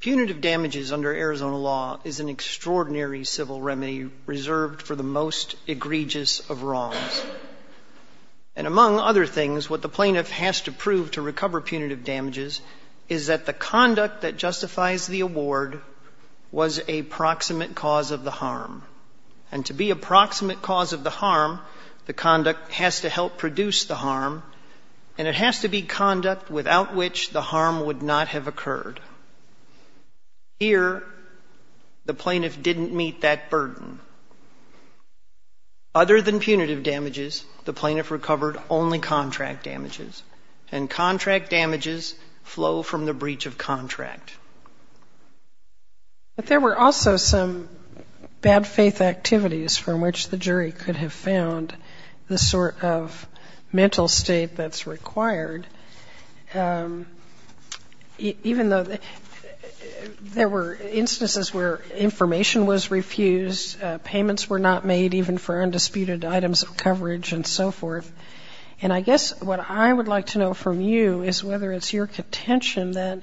Punitive damages under Arizona law is an extraordinary civil remedy reserved for the most egregious of wrongs. And among other things, what the plaintiff has to prove to recover punitive damages is that the conduct that justifies the award was a proximate cause of the harm. And to be a proximate cause of the harm, the conduct has to help produce the harm, and it has to be conduct without which the harm would not have occurred. Here, the plaintiff didn't meet that burden. Other than punitive damages, the plaintiff recovered only contract damages, and contract damages flow from the breach of contract. But there were also some bad faith activities from which the jury could have found the sort of mental state that's required. Even though there were instances where information was refused, payments were not made even for undisputed items of coverage and so forth. And I guess what I would like to know from you is whether it's your contention that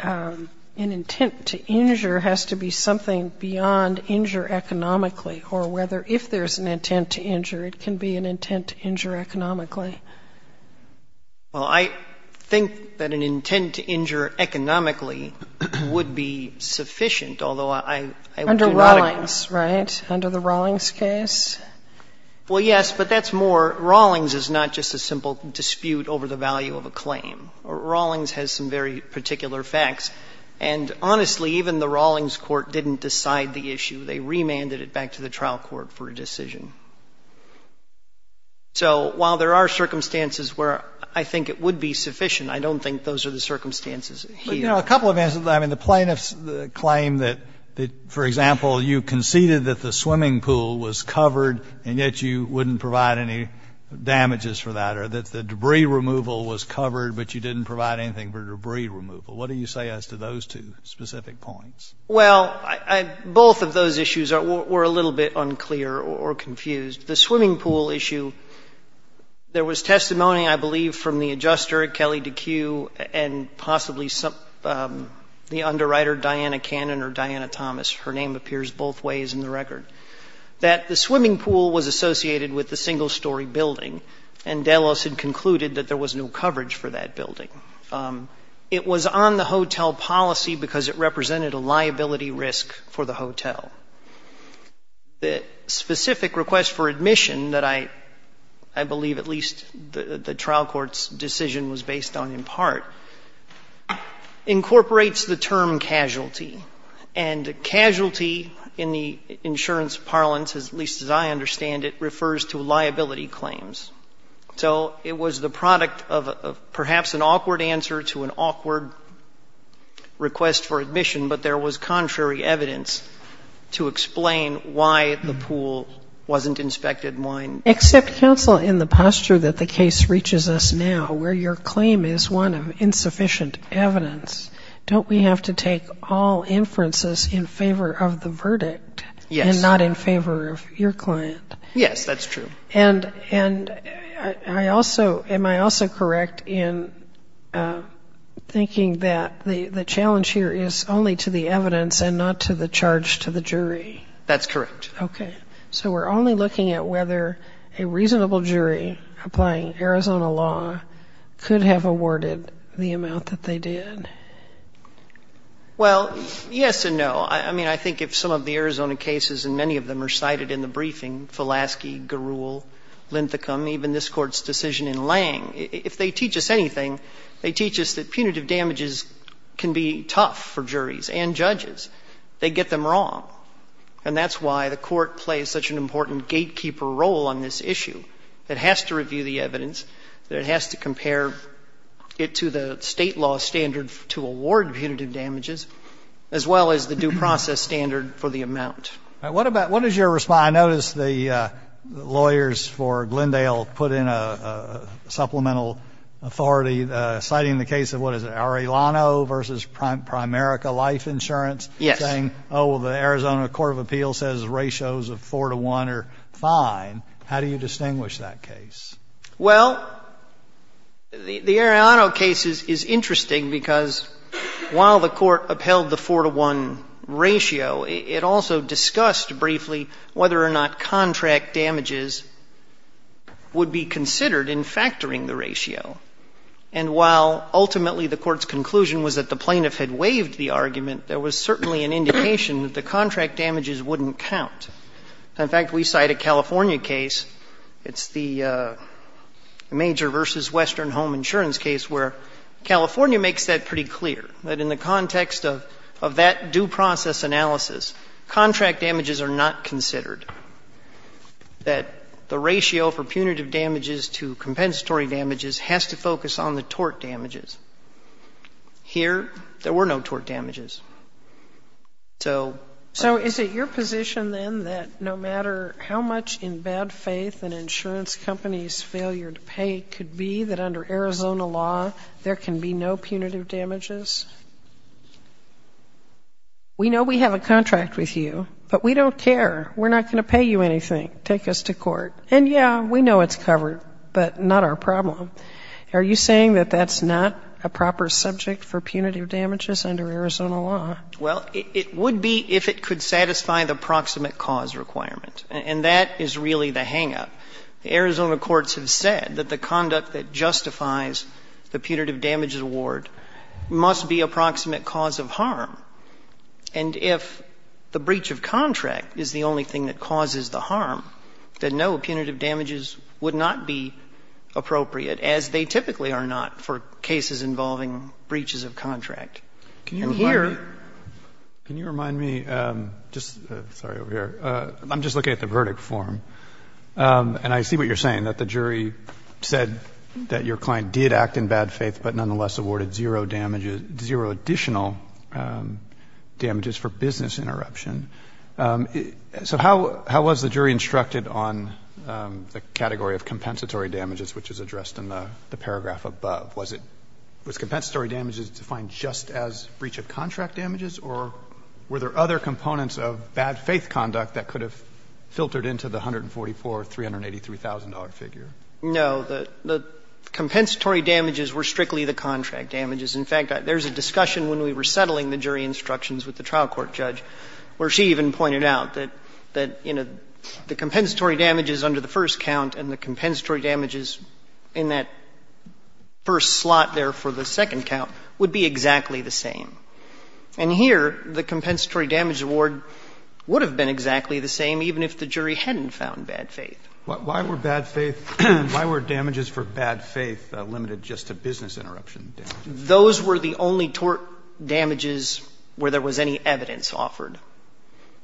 an intent to injure has to be something beyond injure economically, or whether if there's an intent to injure, it can be an intent to injure economically. Well, I think that an intent to injure economically would be sufficient, although I do not agree. Under Rawlings, right? Under the Rawlings case? Well, yes, but that's more, Rawlings is not just a simple dispute over the value of a claim. Rawlings has some very particular facts. And honestly, even the Rawlings court didn't decide the issue. They remanded it back to the trial court for a decision. So while there are circumstances where I think it would be sufficient, I don't think those are the circumstances here. But, you know, a couple of answers. I mean, the plaintiffs claim that, for example, you conceded that the swimming pool was covered, and yet you wouldn't provide any damages for that, or that the debris removal was covered, but you didn't provide anything for debris removal. What do you say as to those two specific points? Well, both of those issues were a little bit unclear or confused. The swimming pool issue, there was testimony, I believe, from the adjuster, Kelly Deque, and possibly the underwriter, Diana Cannon or Diana Thomas, her name appears both ways in the record, that the swimming pool was associated with the single-story building, and Delos had concluded that there was no coverage for that building. It was on the hotel policy because it represented a liability risk for the hotel. The specific request for admission that I believe at least the trial court's decision was based on in part incorporates the term casualty. And casualty in the insurance parlance, at least as I understand it, refers to liability claims. So it was the product of perhaps an awkward answer to an awkward request for admission, but there was contrary evidence to explain why the pool wasn't inspected and why it wasn't. Except counsel, in the posture that the case reaches us now, where your claim is one of insufficient evidence, don't we have to take all inferences in favor of the verdict and not in favor of your client? Yes, that's true. And I also, am I also correct in thinking that the challenge here is only to the evidence and not to the charge to the jury? That's correct. Okay. So we're only looking at whether a reasonable jury applying Arizona law could have awarded the amount that they did? Well, yes and no. I mean, I think if some of the Arizona cases, and many of them are cited in the even this Court's decision in Lange, if they teach us anything, they teach us that punitive damages can be tough for juries and judges. They get them wrong. And that's why the Court plays such an important gatekeeper role on this issue. It has to review the evidence. It has to compare it to the State law standard to award punitive damages, as well as the due process standard for the amount. All right. What about, what is your response? I noticed the lawyers for Glendale put in a supplemental authority citing the case of what is it, Arellano v. Primerica Life Insurance? Yes. Saying, oh, well, the Arizona Court of Appeals says ratios of 4 to 1 are fine. How do you distinguish that case? Well, the Arellano case is interesting because while the Court upheld the 4 to 1 ratio, it also discussed briefly whether or not contract damages would be considered in factoring the ratio. And while ultimately the Court's conclusion was that the plaintiff had waived the argument, there was certainly an indication that the contract damages wouldn't count. In fact, we cite a California case. It's the Major v. Western Home Insurance case where California makes that pretty clear, that in the context of that due process analysis, contract damages are not considered, that the ratio for punitive damages to compensatory damages has to focus on the tort damages. Here, there were no tort damages. So, right. So is it your position, then, that no matter how much in bad faith an insurance company's failure to pay could be that under Arizona law there can be no punitive damages? We know we have a contract with you, but we don't care. We're not going to pay you anything. Take us to court. And, yeah, we know it's covered, but not our problem. Are you saying that that's not a proper subject for punitive damages under Arizona law? Well, it would be if it could satisfy the proximate cause requirement. And that is really the hangup. The Arizona courts have said that the conduct that justifies the punitive damages award must be a proximate cause of harm. And if the breach of contract is the only thing that causes the harm, then no punitive damages would not be appropriate, as they typically are not, for cases involving breaches of contract. And here you're right. Can you remind me, just sorry, over here. I'm just looking at the verdict form. And I see what you're saying, that the jury said that your client did act in bad faith, but nonetheless awarded zero damages, zero additional damages for business interruption. So how was the jury instructed on the category of compensatory damages, which is addressed in the paragraph above? Was it – was compensatory damages defined just as breach of contract damages, or were there other components of bad faith conduct that could have filtered into the $144,000 or $383,000 figure? No. The compensatory damages were strictly the contract damages. In fact, there's a discussion when we were settling the jury instructions with the trial court judge where she even pointed out that, you know, the compensatory damages under the first count and the compensatory damages in that first slot there for the second count would be exactly the same. And here, the compensatory damage award would have been exactly the same, even if the jury hadn't found bad faith. Why were bad faith – why were damages for bad faith limited just to business interruption damages? Those were the only tort damages where there was any evidence offered.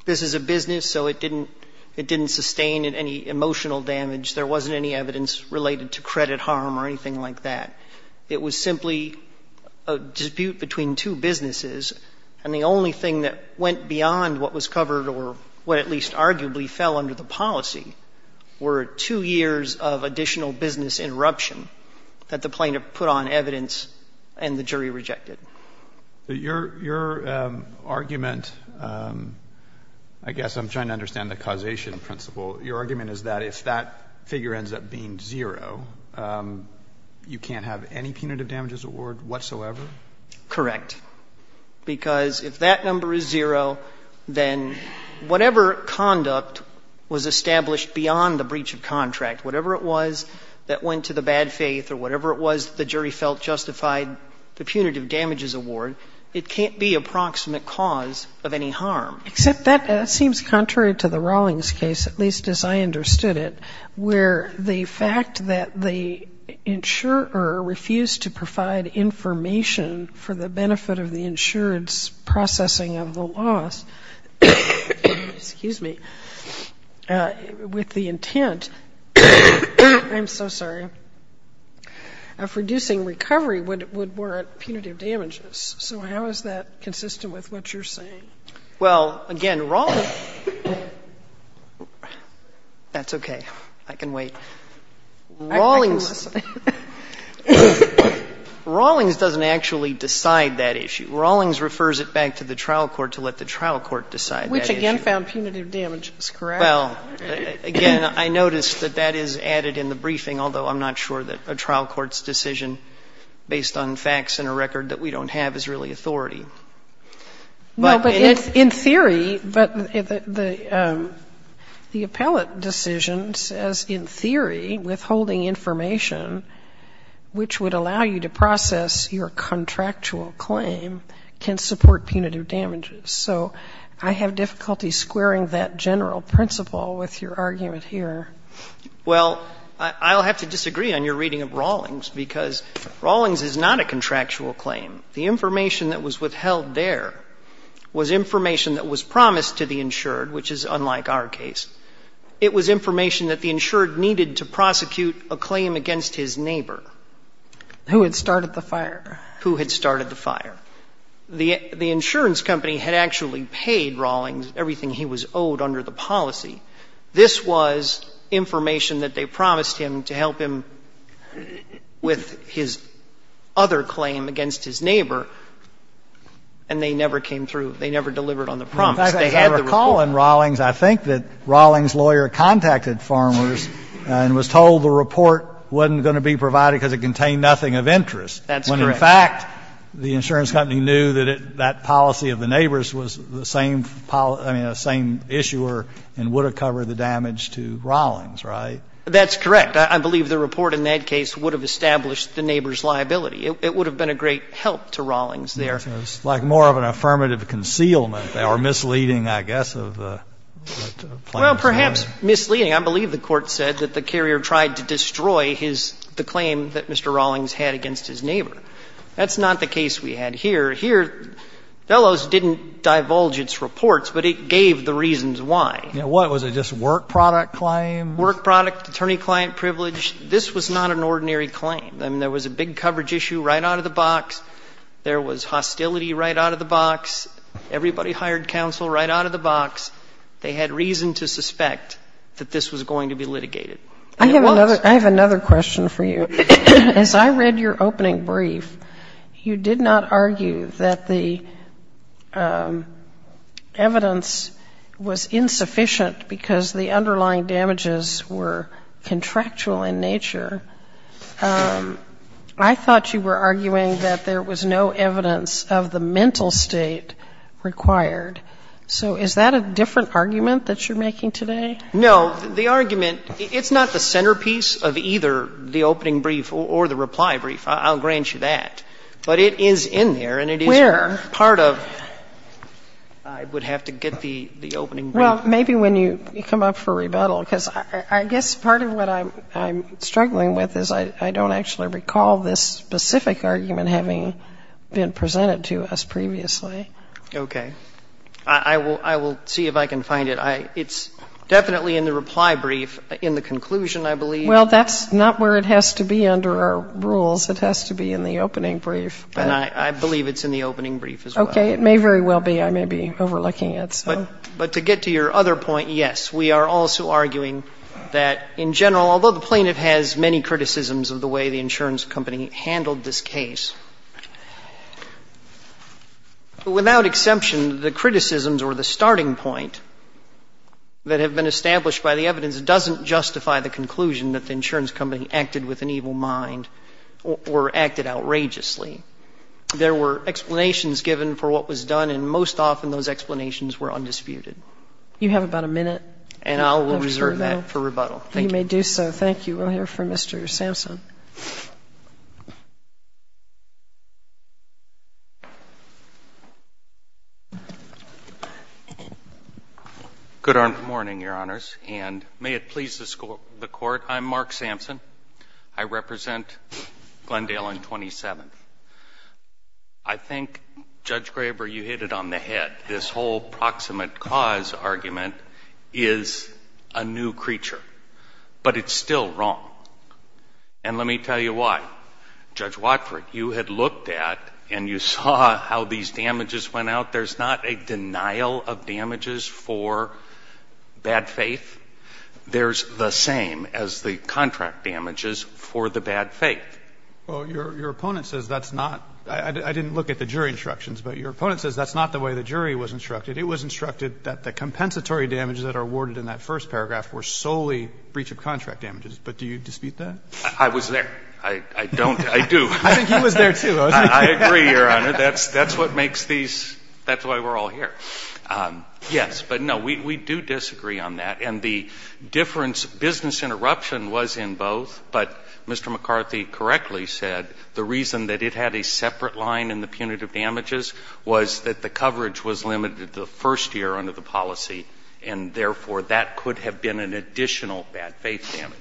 This is a business, so it didn't – it didn't sustain any emotional damage. There wasn't any evidence related to credit harm or anything like that. It was simply a dispute between two businesses, and the only thing that went beyond what was covered or what at least arguably fell under the policy were two years of additional business interruption that the plaintiff put on evidence and the jury rejected. Your – your argument – I guess I'm trying to understand the causation principle. Your argument is that if that figure ends up being zero, you can't have any punitive damages award whatsoever? Correct. Because if that number is zero, then whatever conduct was established beyond the breach of contract, whatever it was that went to the bad faith or whatever it was the jury felt justified the punitive damages award, it can't be a proximate cause of any harm. Except that seems contrary to the Rawlings case, at least as I understood it, where the fact that the insurer refused to provide information for the benefit of the insurance processing of the loss – excuse me – with the intent – I'm so sorry – of reducing recovery would warrant punitive damages. So how is that consistent with what you're saying? Well, again, Rawlings – that's okay. I can wait. Rawlings doesn't actually decide that issue. Rawlings refers it back to the trial court to let the trial court decide that issue. Which again found punitive damages, correct? Well, again, I noticed that that is added in the briefing, although I'm not sure that a trial court's decision based on facts and a record that we don't have is really authority. No, but in theory, but the appellate decision says in theory withholding information which would allow you to process your contractual claim can support punitive damages. So I have difficulty squaring that general principle with your argument here. Well, I'll have to disagree on your reading of Rawlings because Rawlings is not a contractual claim. The information that was withheld there was information that was promised to the insured, which is unlike our case. It was information that the insured needed to prosecute a claim against his neighbor. Who had started the fire. Who had started the fire. The insurance company had actually paid Rawlings everything he was owed under the policy. This was information that they promised him to help him with his other claim against his neighbor, and they never came through. They never delivered on the promise. They had the report. I recall in Rawlings, I think that Rawlings' lawyer contacted Farmers and was told the report wasn't going to be provided because it contained nothing of interest. That's correct. When, in fact, the insurance company knew that that policy of the neighbor's was the same policy, I mean, the same issuer and would have covered the damage to Rawlings, right? That's correct. I believe the report in that case would have established the neighbor's liability. It would have been a great help to Rawlings there. It's like more of an affirmative concealment or misleading, I guess, of the plaintiff's claim. Well, perhaps misleading. I believe the Court said that the carrier tried to destroy his the claim that Mr. Rawlings had against his neighbor. That's not the case we had here. Here, Bellows didn't divulge its reports, but it gave the reasons why. What? Was it just a work product claim? Work product, attorney-client privilege. This was not an ordinary claim. I mean, there was a big coverage issue right out of the box. There was hostility right out of the box. Everybody hired counsel right out of the box. They had reason to suspect that this was going to be litigated. And it was. I have another question for you. As I read your opening brief, you did not argue that the evidence was insufficient because the underlying damages were contractual in nature. I thought you were arguing that there was no evidence of the mental state required. So is that a different argument that you're making today? No. The argument, it's not the centerpiece of either the opening brief or the reply brief. I'll grant you that. But it is in there and it is part of. Where? I would have to get the opening brief. Well, maybe when you come up for rebuttal, because I guess part of what I'm struggling with is I don't actually recall this specific argument having been presented to us previously. Okay. I will see if I can find it. It's definitely in the reply brief. In the conclusion, I believe. Well, that's not where it has to be under our rules. It has to be in the opening brief. And I believe it's in the opening brief as well. Okay. It may very well be. I may be overlooking it. But to get to your other point, yes, we are also arguing that in general, although the plaintiff has many criticisms of the way the insurance company handled this case, without exception, the criticisms or the starting point that have been established by the evidence doesn't justify the conclusion that the insurance company acted with an evil mind or acted outrageously. There were explanations given for what was done and most often those explanations were undisputed. You have about a minute. And I will reserve that for rebuttal. You may do so. Thank you. We'll hear from Mr. Sampson. Good morning, Your Honors. And may it please the Court, I'm Mark Sampson. I represent Glendale on 27th. I think, Judge Graber, you hit it on the head. This whole proximate cause argument is a new creature. But it's still wrong. And let me tell you why. Judge Watford, you had looked at and you saw how these damages went out. There's not a denial of damages for bad faith. There's the same as the contract damages for the bad faith. Well, your opponent says that's not — I didn't look at the jury instructions, but your opponent says that's not the way the jury was instructed. It was instructed that the compensatory damages that are awarded in that first year should be a breach of contract damages. But do you dispute that? I was there. I don't. I do. I think he was there, too. I agree, Your Honor. That's what makes these — that's why we're all here. Yes. But, no, we do disagree on that. And the difference — business interruption was in both. But Mr. McCarthy correctly said the reason that it had a separate line in the punitive damages was that the coverage was limited the first year under the policy. And, therefore, that could have been an additional bad faith damage.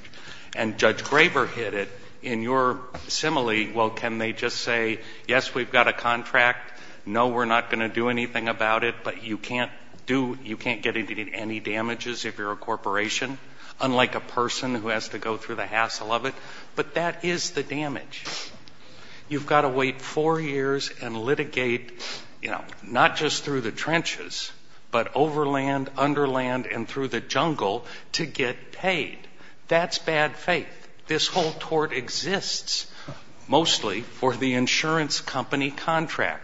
And Judge Graver hit it. In your simile, well, can they just say, yes, we've got a contract, no, we're not going to do anything about it, but you can't do — you can't get any damages if you're a corporation, unlike a person who has to go through the hassle of it? But that is the damage. You've got to wait four years and litigate, you know, not just through the trenches, but over land, under land, and through the jungle to get paid. That's bad faith. This whole tort exists mostly for the insurance company contract.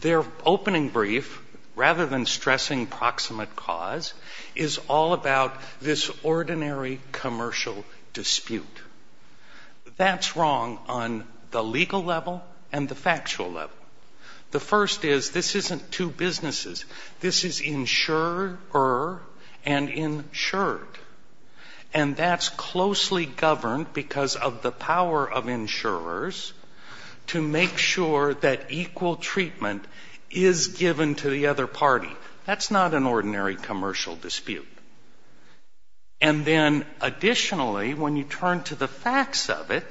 Their opening brief, rather than stressing proximate cause, is all about this ordinary commercial dispute. That's wrong on the legal level and the factual level. The first is, this isn't two businesses. This is insurer and insured. And that's closely governed because of the power of insurers to make sure that equal treatment is given to the other party. That's not an ordinary commercial dispute. And then, additionally, when you turn to the facts of it,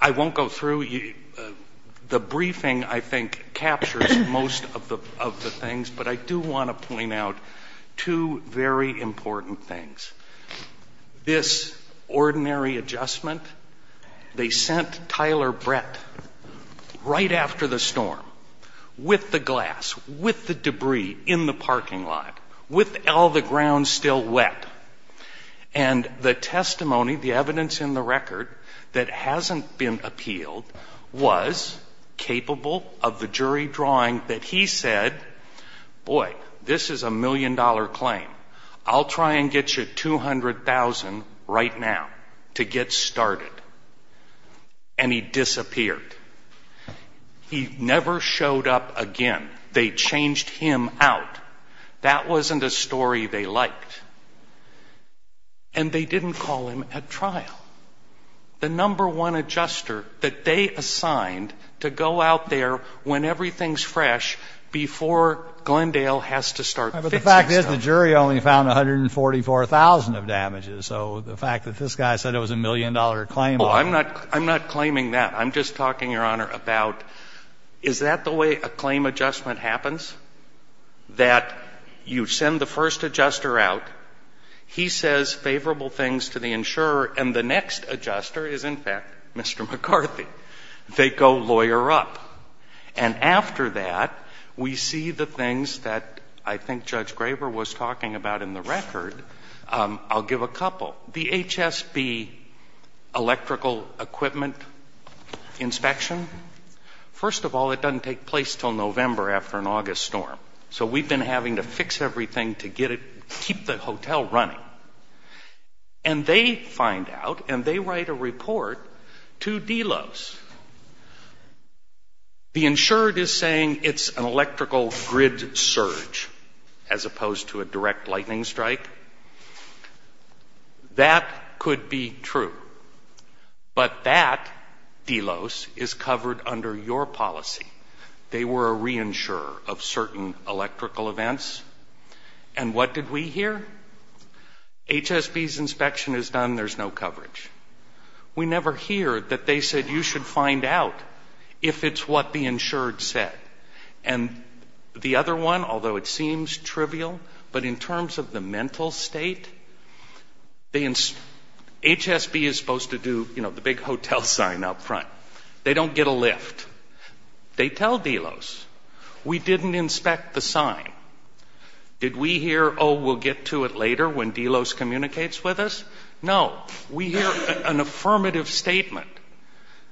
I won't go through — the briefing, I think, captures most of the things, but I do want to point out two very important things. This ordinary adjustment, they sent Tyler Brett right after the storm with the glass, with the debris in the parking lot, with all the ground still wet. And the testimony, the evidence in the record that hasn't been appealed was capable of the jury drawing that he said, boy, this is a million-dollar claim. I'll try and get you $200,000 right now to get started. And he disappeared. He never showed up again. They changed him out. That wasn't a story they liked. And they didn't call him at trial. The number one adjuster that they assigned to go out there when everything's fresh, before Glendale has to start fixing stuff. But the fact is, the jury only found 144,000 of damages. So the fact that this guy said it was a million-dollar claim — Oh, I'm not claiming that. I'm just talking, Your Honor, about is that the way a claim adjustment happens? That you send the first adjuster out. He says favorable things to the insurer. And the next adjuster is, in fact, Mr. McCarthy. They go lawyer up. And after that, we see the things that I think Judge Graber was talking about in the record. I'll give a couple. The HSB electrical equipment inspection. First of all, it doesn't take place until November after an August storm. So we've been having to fix everything to keep the hotel running. And they find out, and they write a report to Delos. The insurer is saying it's an electrical grid surge, as opposed to a direct lightning strike. That could be true. But that, Delos, is covered under your policy. They were a reinsurer of certain electrical events. And what did we hear? HSB's inspection is done. There's no coverage. We never hear that they said you should find out if it's what the insured said. And the other one, although it seems trivial, but in terms of the mental state, HSB is supposed to do, you know, the big hotel sign up front. They don't get a lift. They tell Delos. We didn't inspect the sign. Did we hear, oh, we'll get to it later when Delos communicates with us? No. We hear an affirmative statement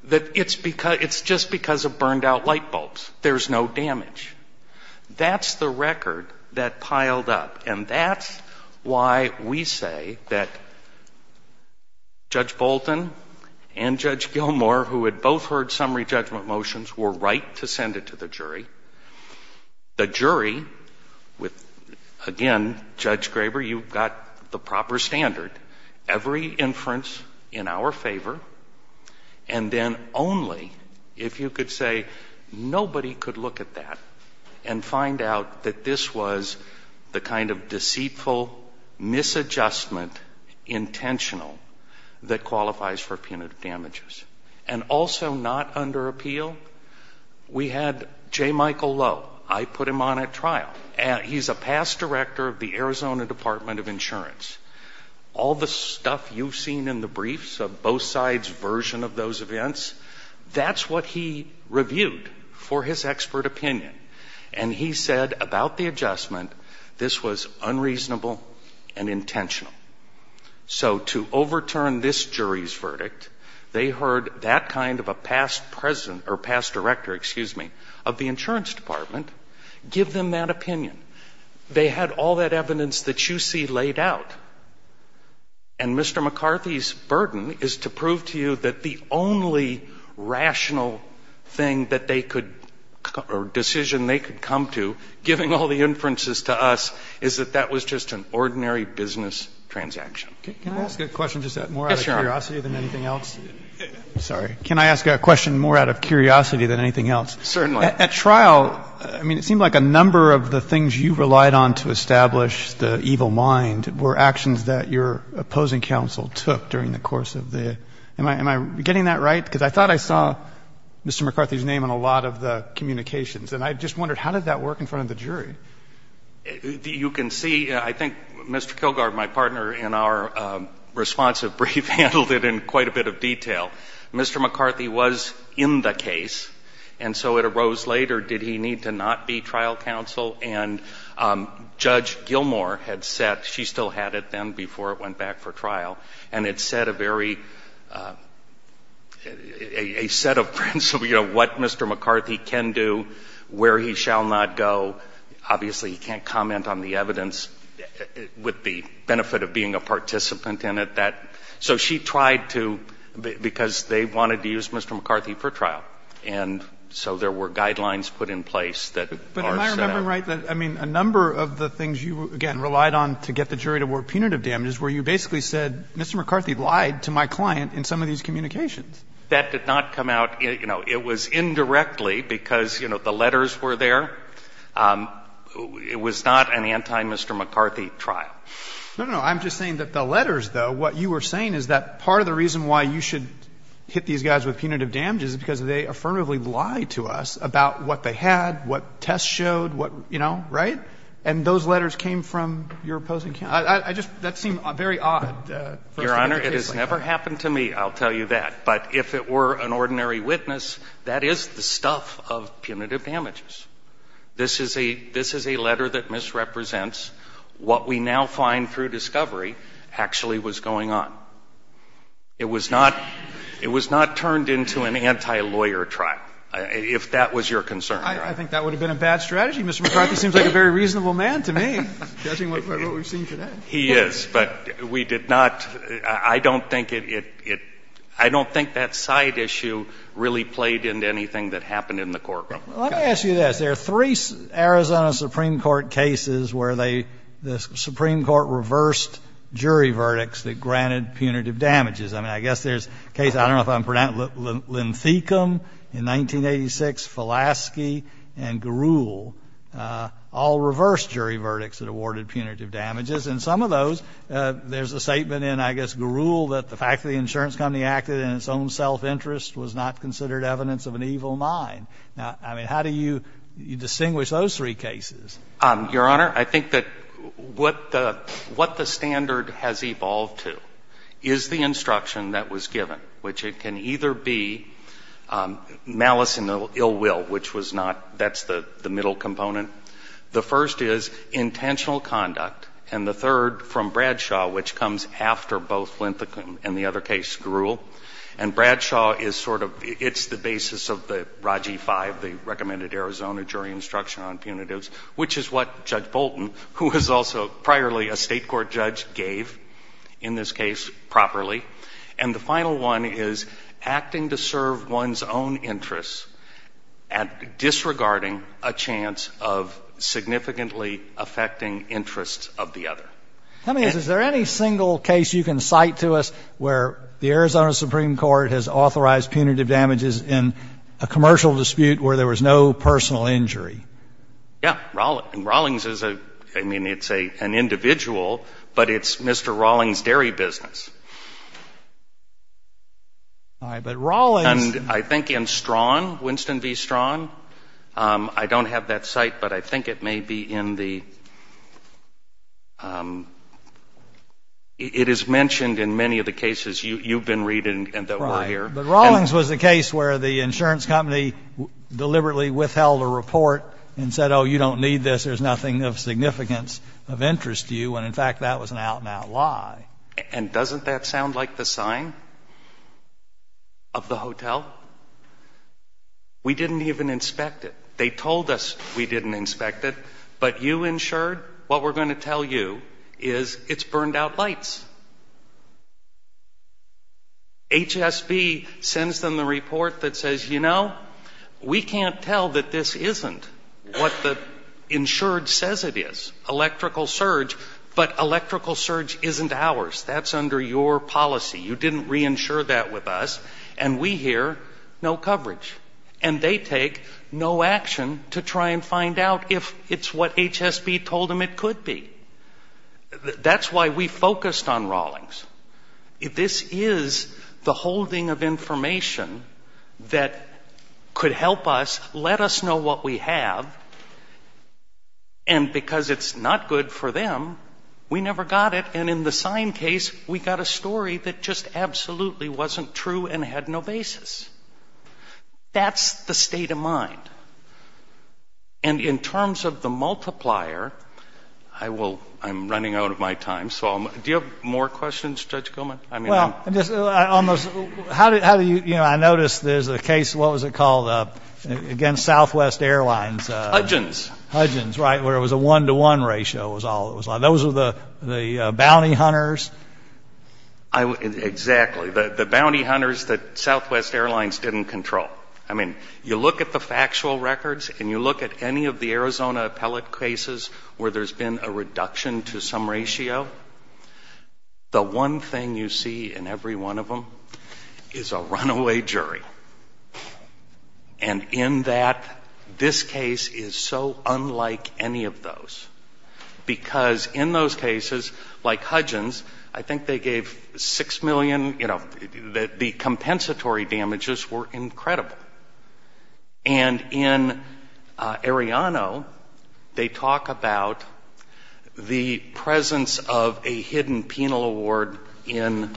that it's just because of burned-out light bulbs. There's no damage. That's the record that piled up. And that's why we say that Judge Bolton and Judge Gilmour, who had both heard summary judgment motions, were right to send it to the jury. The jury, with, again, Judge Graber, you've got the proper standard. Every inference in our favor, and then only if you could say nobody could look at that and find out that this was the kind of deceitful misadjustment, intentional, that qualifies for punitive damages. And also not under appeal, we had J. Michael Lowe. I put him on at trial. He's a past director of the Arizona Department of Insurance. All the stuff you've seen in the briefs of both sides' version of those events, that's what he reviewed for his expert opinion. And he said about the adjustment, this was unreasonable and intentional. So to overturn this jury's verdict, they heard that kind of a past president, or past director, excuse me, of the insurance department give them that opinion. They had all that evidence that you see laid out. And Mr. McCarthy's burden is to prove to you that the only rational thing that they could, or decision they could come to, giving all the inferences to us, is that that was just an ordinary business transaction. Can I ask a question just that more out of curiosity than anything else? Sorry. Can I ask a question more out of curiosity than anything else? Certainly. At trial, I mean, it seemed like a number of the things you relied on to establish the evil mind were actions that your opposing counsel took during the course of the Am I getting that right? Because I thought I saw Mr. McCarthy's name on a lot of the communications. And I just wondered, how did that work in front of the jury? You can see, I think Mr. Kilgore, my partner in our responsive brief, handled it in quite a bit of detail. Mr. McCarthy was in the case. And so it arose later, did he need to not be trial counsel? And Judge Gilmour had said, she still had it then before it went back for trial. And it said a very, a set of principles, you know, what Mr. McCarthy can do, where he shall not go. Obviously, he can't comment on the evidence with the benefit of being a participant in it, that. So she tried to, because they wanted to use Mr. McCarthy for trial. And so there were guidelines put in place that are set up. But am I remembering right that, I mean, a number of the things you, again, relied on to get the jury to award punitive damages, where you basically said, Mr. McCarthy lied to my client in some of these communications. The letters were there. It was not an anti-Mr. McCarthy trial. No, no, no. I'm just saying that the letters, though, what you were saying is that part of the reason why you should hit these guys with punitive damages is because they affirmatively lied to us about what they had, what tests showed, what, you know, right? And those letters came from your opposing counsel. I just, that seemed very odd. Your Honor, it has never happened to me, I'll tell you that. But if it were an ordinary witness, that is the stuff of punitive damages. This is a, this is a letter that misrepresents what we now find through discovery actually was going on. It was not, it was not turned into an anti-lawyer trial, if that was your concern. I think that would have been a bad strategy. Mr. McCarthy seems like a very reasonable man to me, judging by what we've seen today. He is, but we did not, I don't think it, it, I don't think that side issue really played into anything that happened in the courtroom. Let me ask you this. There are three Arizona Supreme Court cases where they, the Supreme Court reversed jury verdicts that granted punitive damages. I mean, I guess there's a case, I don't know if I'm pronouncing, Linthicum in 1986, Fulaski, and Garul, all reversed jury verdicts that awarded punitive damages. In some of those, there's a statement in, I guess, Garul, that the fact that the insurance company acted in its own self-interest was not considered evidence of an evil mind. Now, I mean, how do you distinguish those three cases? Your Honor, I think that what the, what the standard has evolved to is the instruction that was given, which it can either be malice and ill will, which was not, that's the, the middle component. The first is intentional conduct, and the third from Bradshaw, which comes after both Linthicum and the other case, Garul. And Bradshaw is sort of, it's the basis of the RAGI-5, the Recommended Arizona Jury Instruction on Punitives, which is what Judge Bolton, who was also priorly a state court judge, gave in this case properly. And the final one is acting to serve one's own interests and disregarding a chance of significantly affecting interests of the other. I mean, is there any single case you can cite to us where the Arizona Supreme Court has authorized punitive damages in a commercial dispute where there was no personal injury? Yeah. Rawlings is a, I mean, it's an individual, but it's Mr. Rawlings' dairy business. All right. But Rawlings And I think in Strawn, Winston v. Strawn, I don't have that cite, but I think it may be in the, it is mentioned in many of the cases you've been reading and that were here. Right. But Rawlings was the case where the insurance company deliberately withheld a report and said, oh, you don't need this, there's nothing of significance of interest to you. And in fact, that was an out-and-out lie. And doesn't that sound like the sign of the hotel? We didn't even inspect it. They told us we didn't inspect it. But you insured, what we're going to tell you is it's burned out lights. HSB sends them the report that says, you know, we can't tell that this isn't what the insured says it is. Electrical surge. But electrical surge isn't ours. That's under your policy. You didn't reinsure that with us. And we hear no coverage. And they take no action to try and find out if it's what HSB told them it could be. That's why we focused on Rawlings. This is the holding of information that could help us let us know what we have. And because it's not good for them, we never got it. And in the sign case, we got a story that just absolutely wasn't true and had no basis. That's the state of mind. And in terms of the multiplier, I'm running out of my time. Do you have more questions, Judge Gilman? I noticed there's a case, what was it called? Again, Southwest Airlines. Hudgens. Hudgens, right, where it was a one-to-one ratio. Those are the bounty hunters. Exactly. The bounty hunters that Southwest Airlines didn't control. I mean, you look at the factual records and you look at any of the Arizona appellate cases where there's been a reduction to some ratio, the one thing you see in every one of them is a runaway jury. And in that, this case is so unlike any of those. Because in those cases, like Hudgens, I think they gave $6 million. The compensatory damages were incredible. And in Arellano, they talk about the presence of a hidden penal award in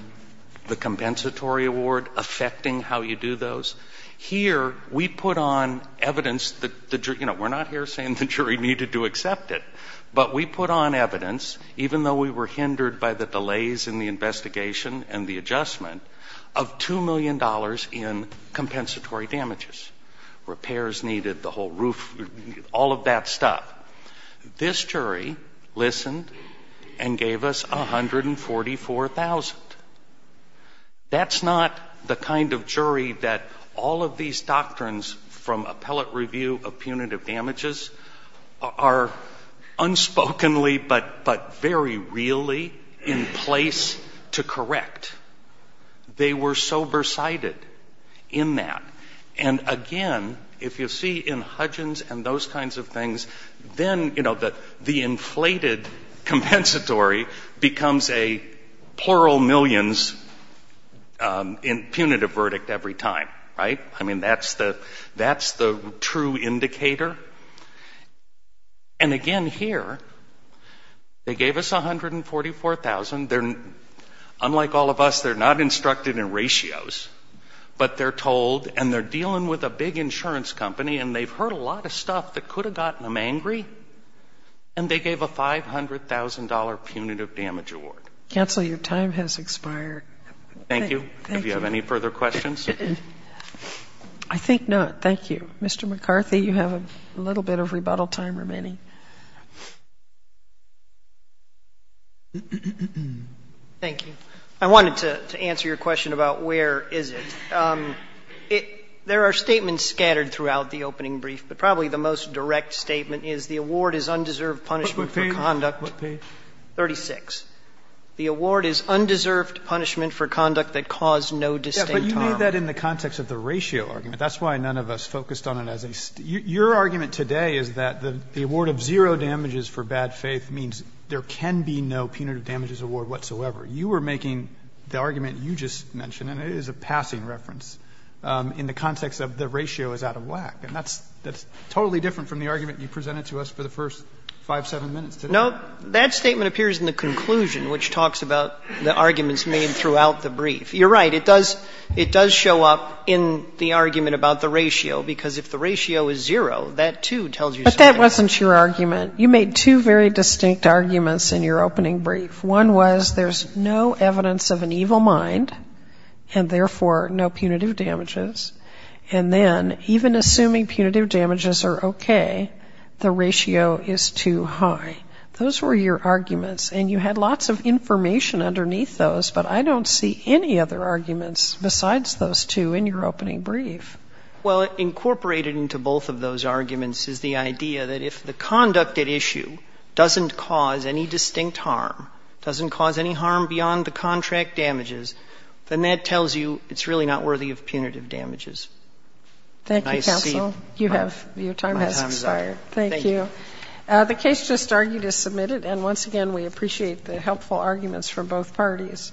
the compensatory award affecting how you do those. Here, we put on evidence. We're not here saying the jury needed to accept it. But we put on evidence, even though we were hindered by the delays in the investigation and the adjustment, of $2 million in compensatory damages. Repairs needed, the whole roof, all of that stuff. This jury listened and gave us $144,000. That's not the kind of jury that all of these doctrines from appellate review of punitive damages are unspokenly but very really in place to correct. They were sober-sighted in that. And again, if you see in Hudgens and those kinds of things, then the inflated compensatory becomes a plural millions punitive verdict every time. Right? I mean, that's the true indicator. And again, here, they gave us $144,000. Unlike all of us, they're not instructed in ratios. But they're told and they're dealing with a big insurance company and they've heard a lot of stuff that could have gotten them angry and they gave a $500,000 punitive damage award. Counsel, your time has expired. Thank you. Thank you. Do you have any further questions? I think not. Thank you. Mr. McCarthy, you have a little bit of rebuttal time remaining. Thank you. I wanted to answer your question about where is it. There are statements scattered throughout the opening brief, but probably the most direct statement is the award is undeserved punishment for conduct 36. The award is undeserved punishment for conduct that caused no distinct harm. But you made that in the context of the ratio argument. That's why none of us focused on it as a statement. Your argument today is that the award of zero damages for bad faith means there can be no punitive damages award whatsoever. You were making the argument you just mentioned, and it is a passing reference, in the context of the ratio is out of whack. And that's totally different from the argument you presented to us for the first five, seven minutes today. No, that statement appears in the conclusion, which talks about the arguments made throughout the brief. You're right. It does show up in the argument about the ratio, because if the ratio is zero, that, too, tells you something. But that wasn't your argument. You made two very distinct arguments in your opening brief. One was there's no evidence of an evil mind and, therefore, no punitive damages. And then, even assuming punitive damages are okay, the ratio is too high. Those were your arguments. And you had lots of information underneath those, but I don't see any other arguments besides those two in your opening brief. Well, incorporated into both of those arguments is the idea that, if the conduct at issue doesn't cause any distinct harm, doesn't cause any harm beyond the contract damages, then that tells you it's really not worthy of punitive damages. Thank you, counsel. Your time has expired. Thank you. The case just argued is submitted, and, once again, we appreciate the helpful arguments from both parties.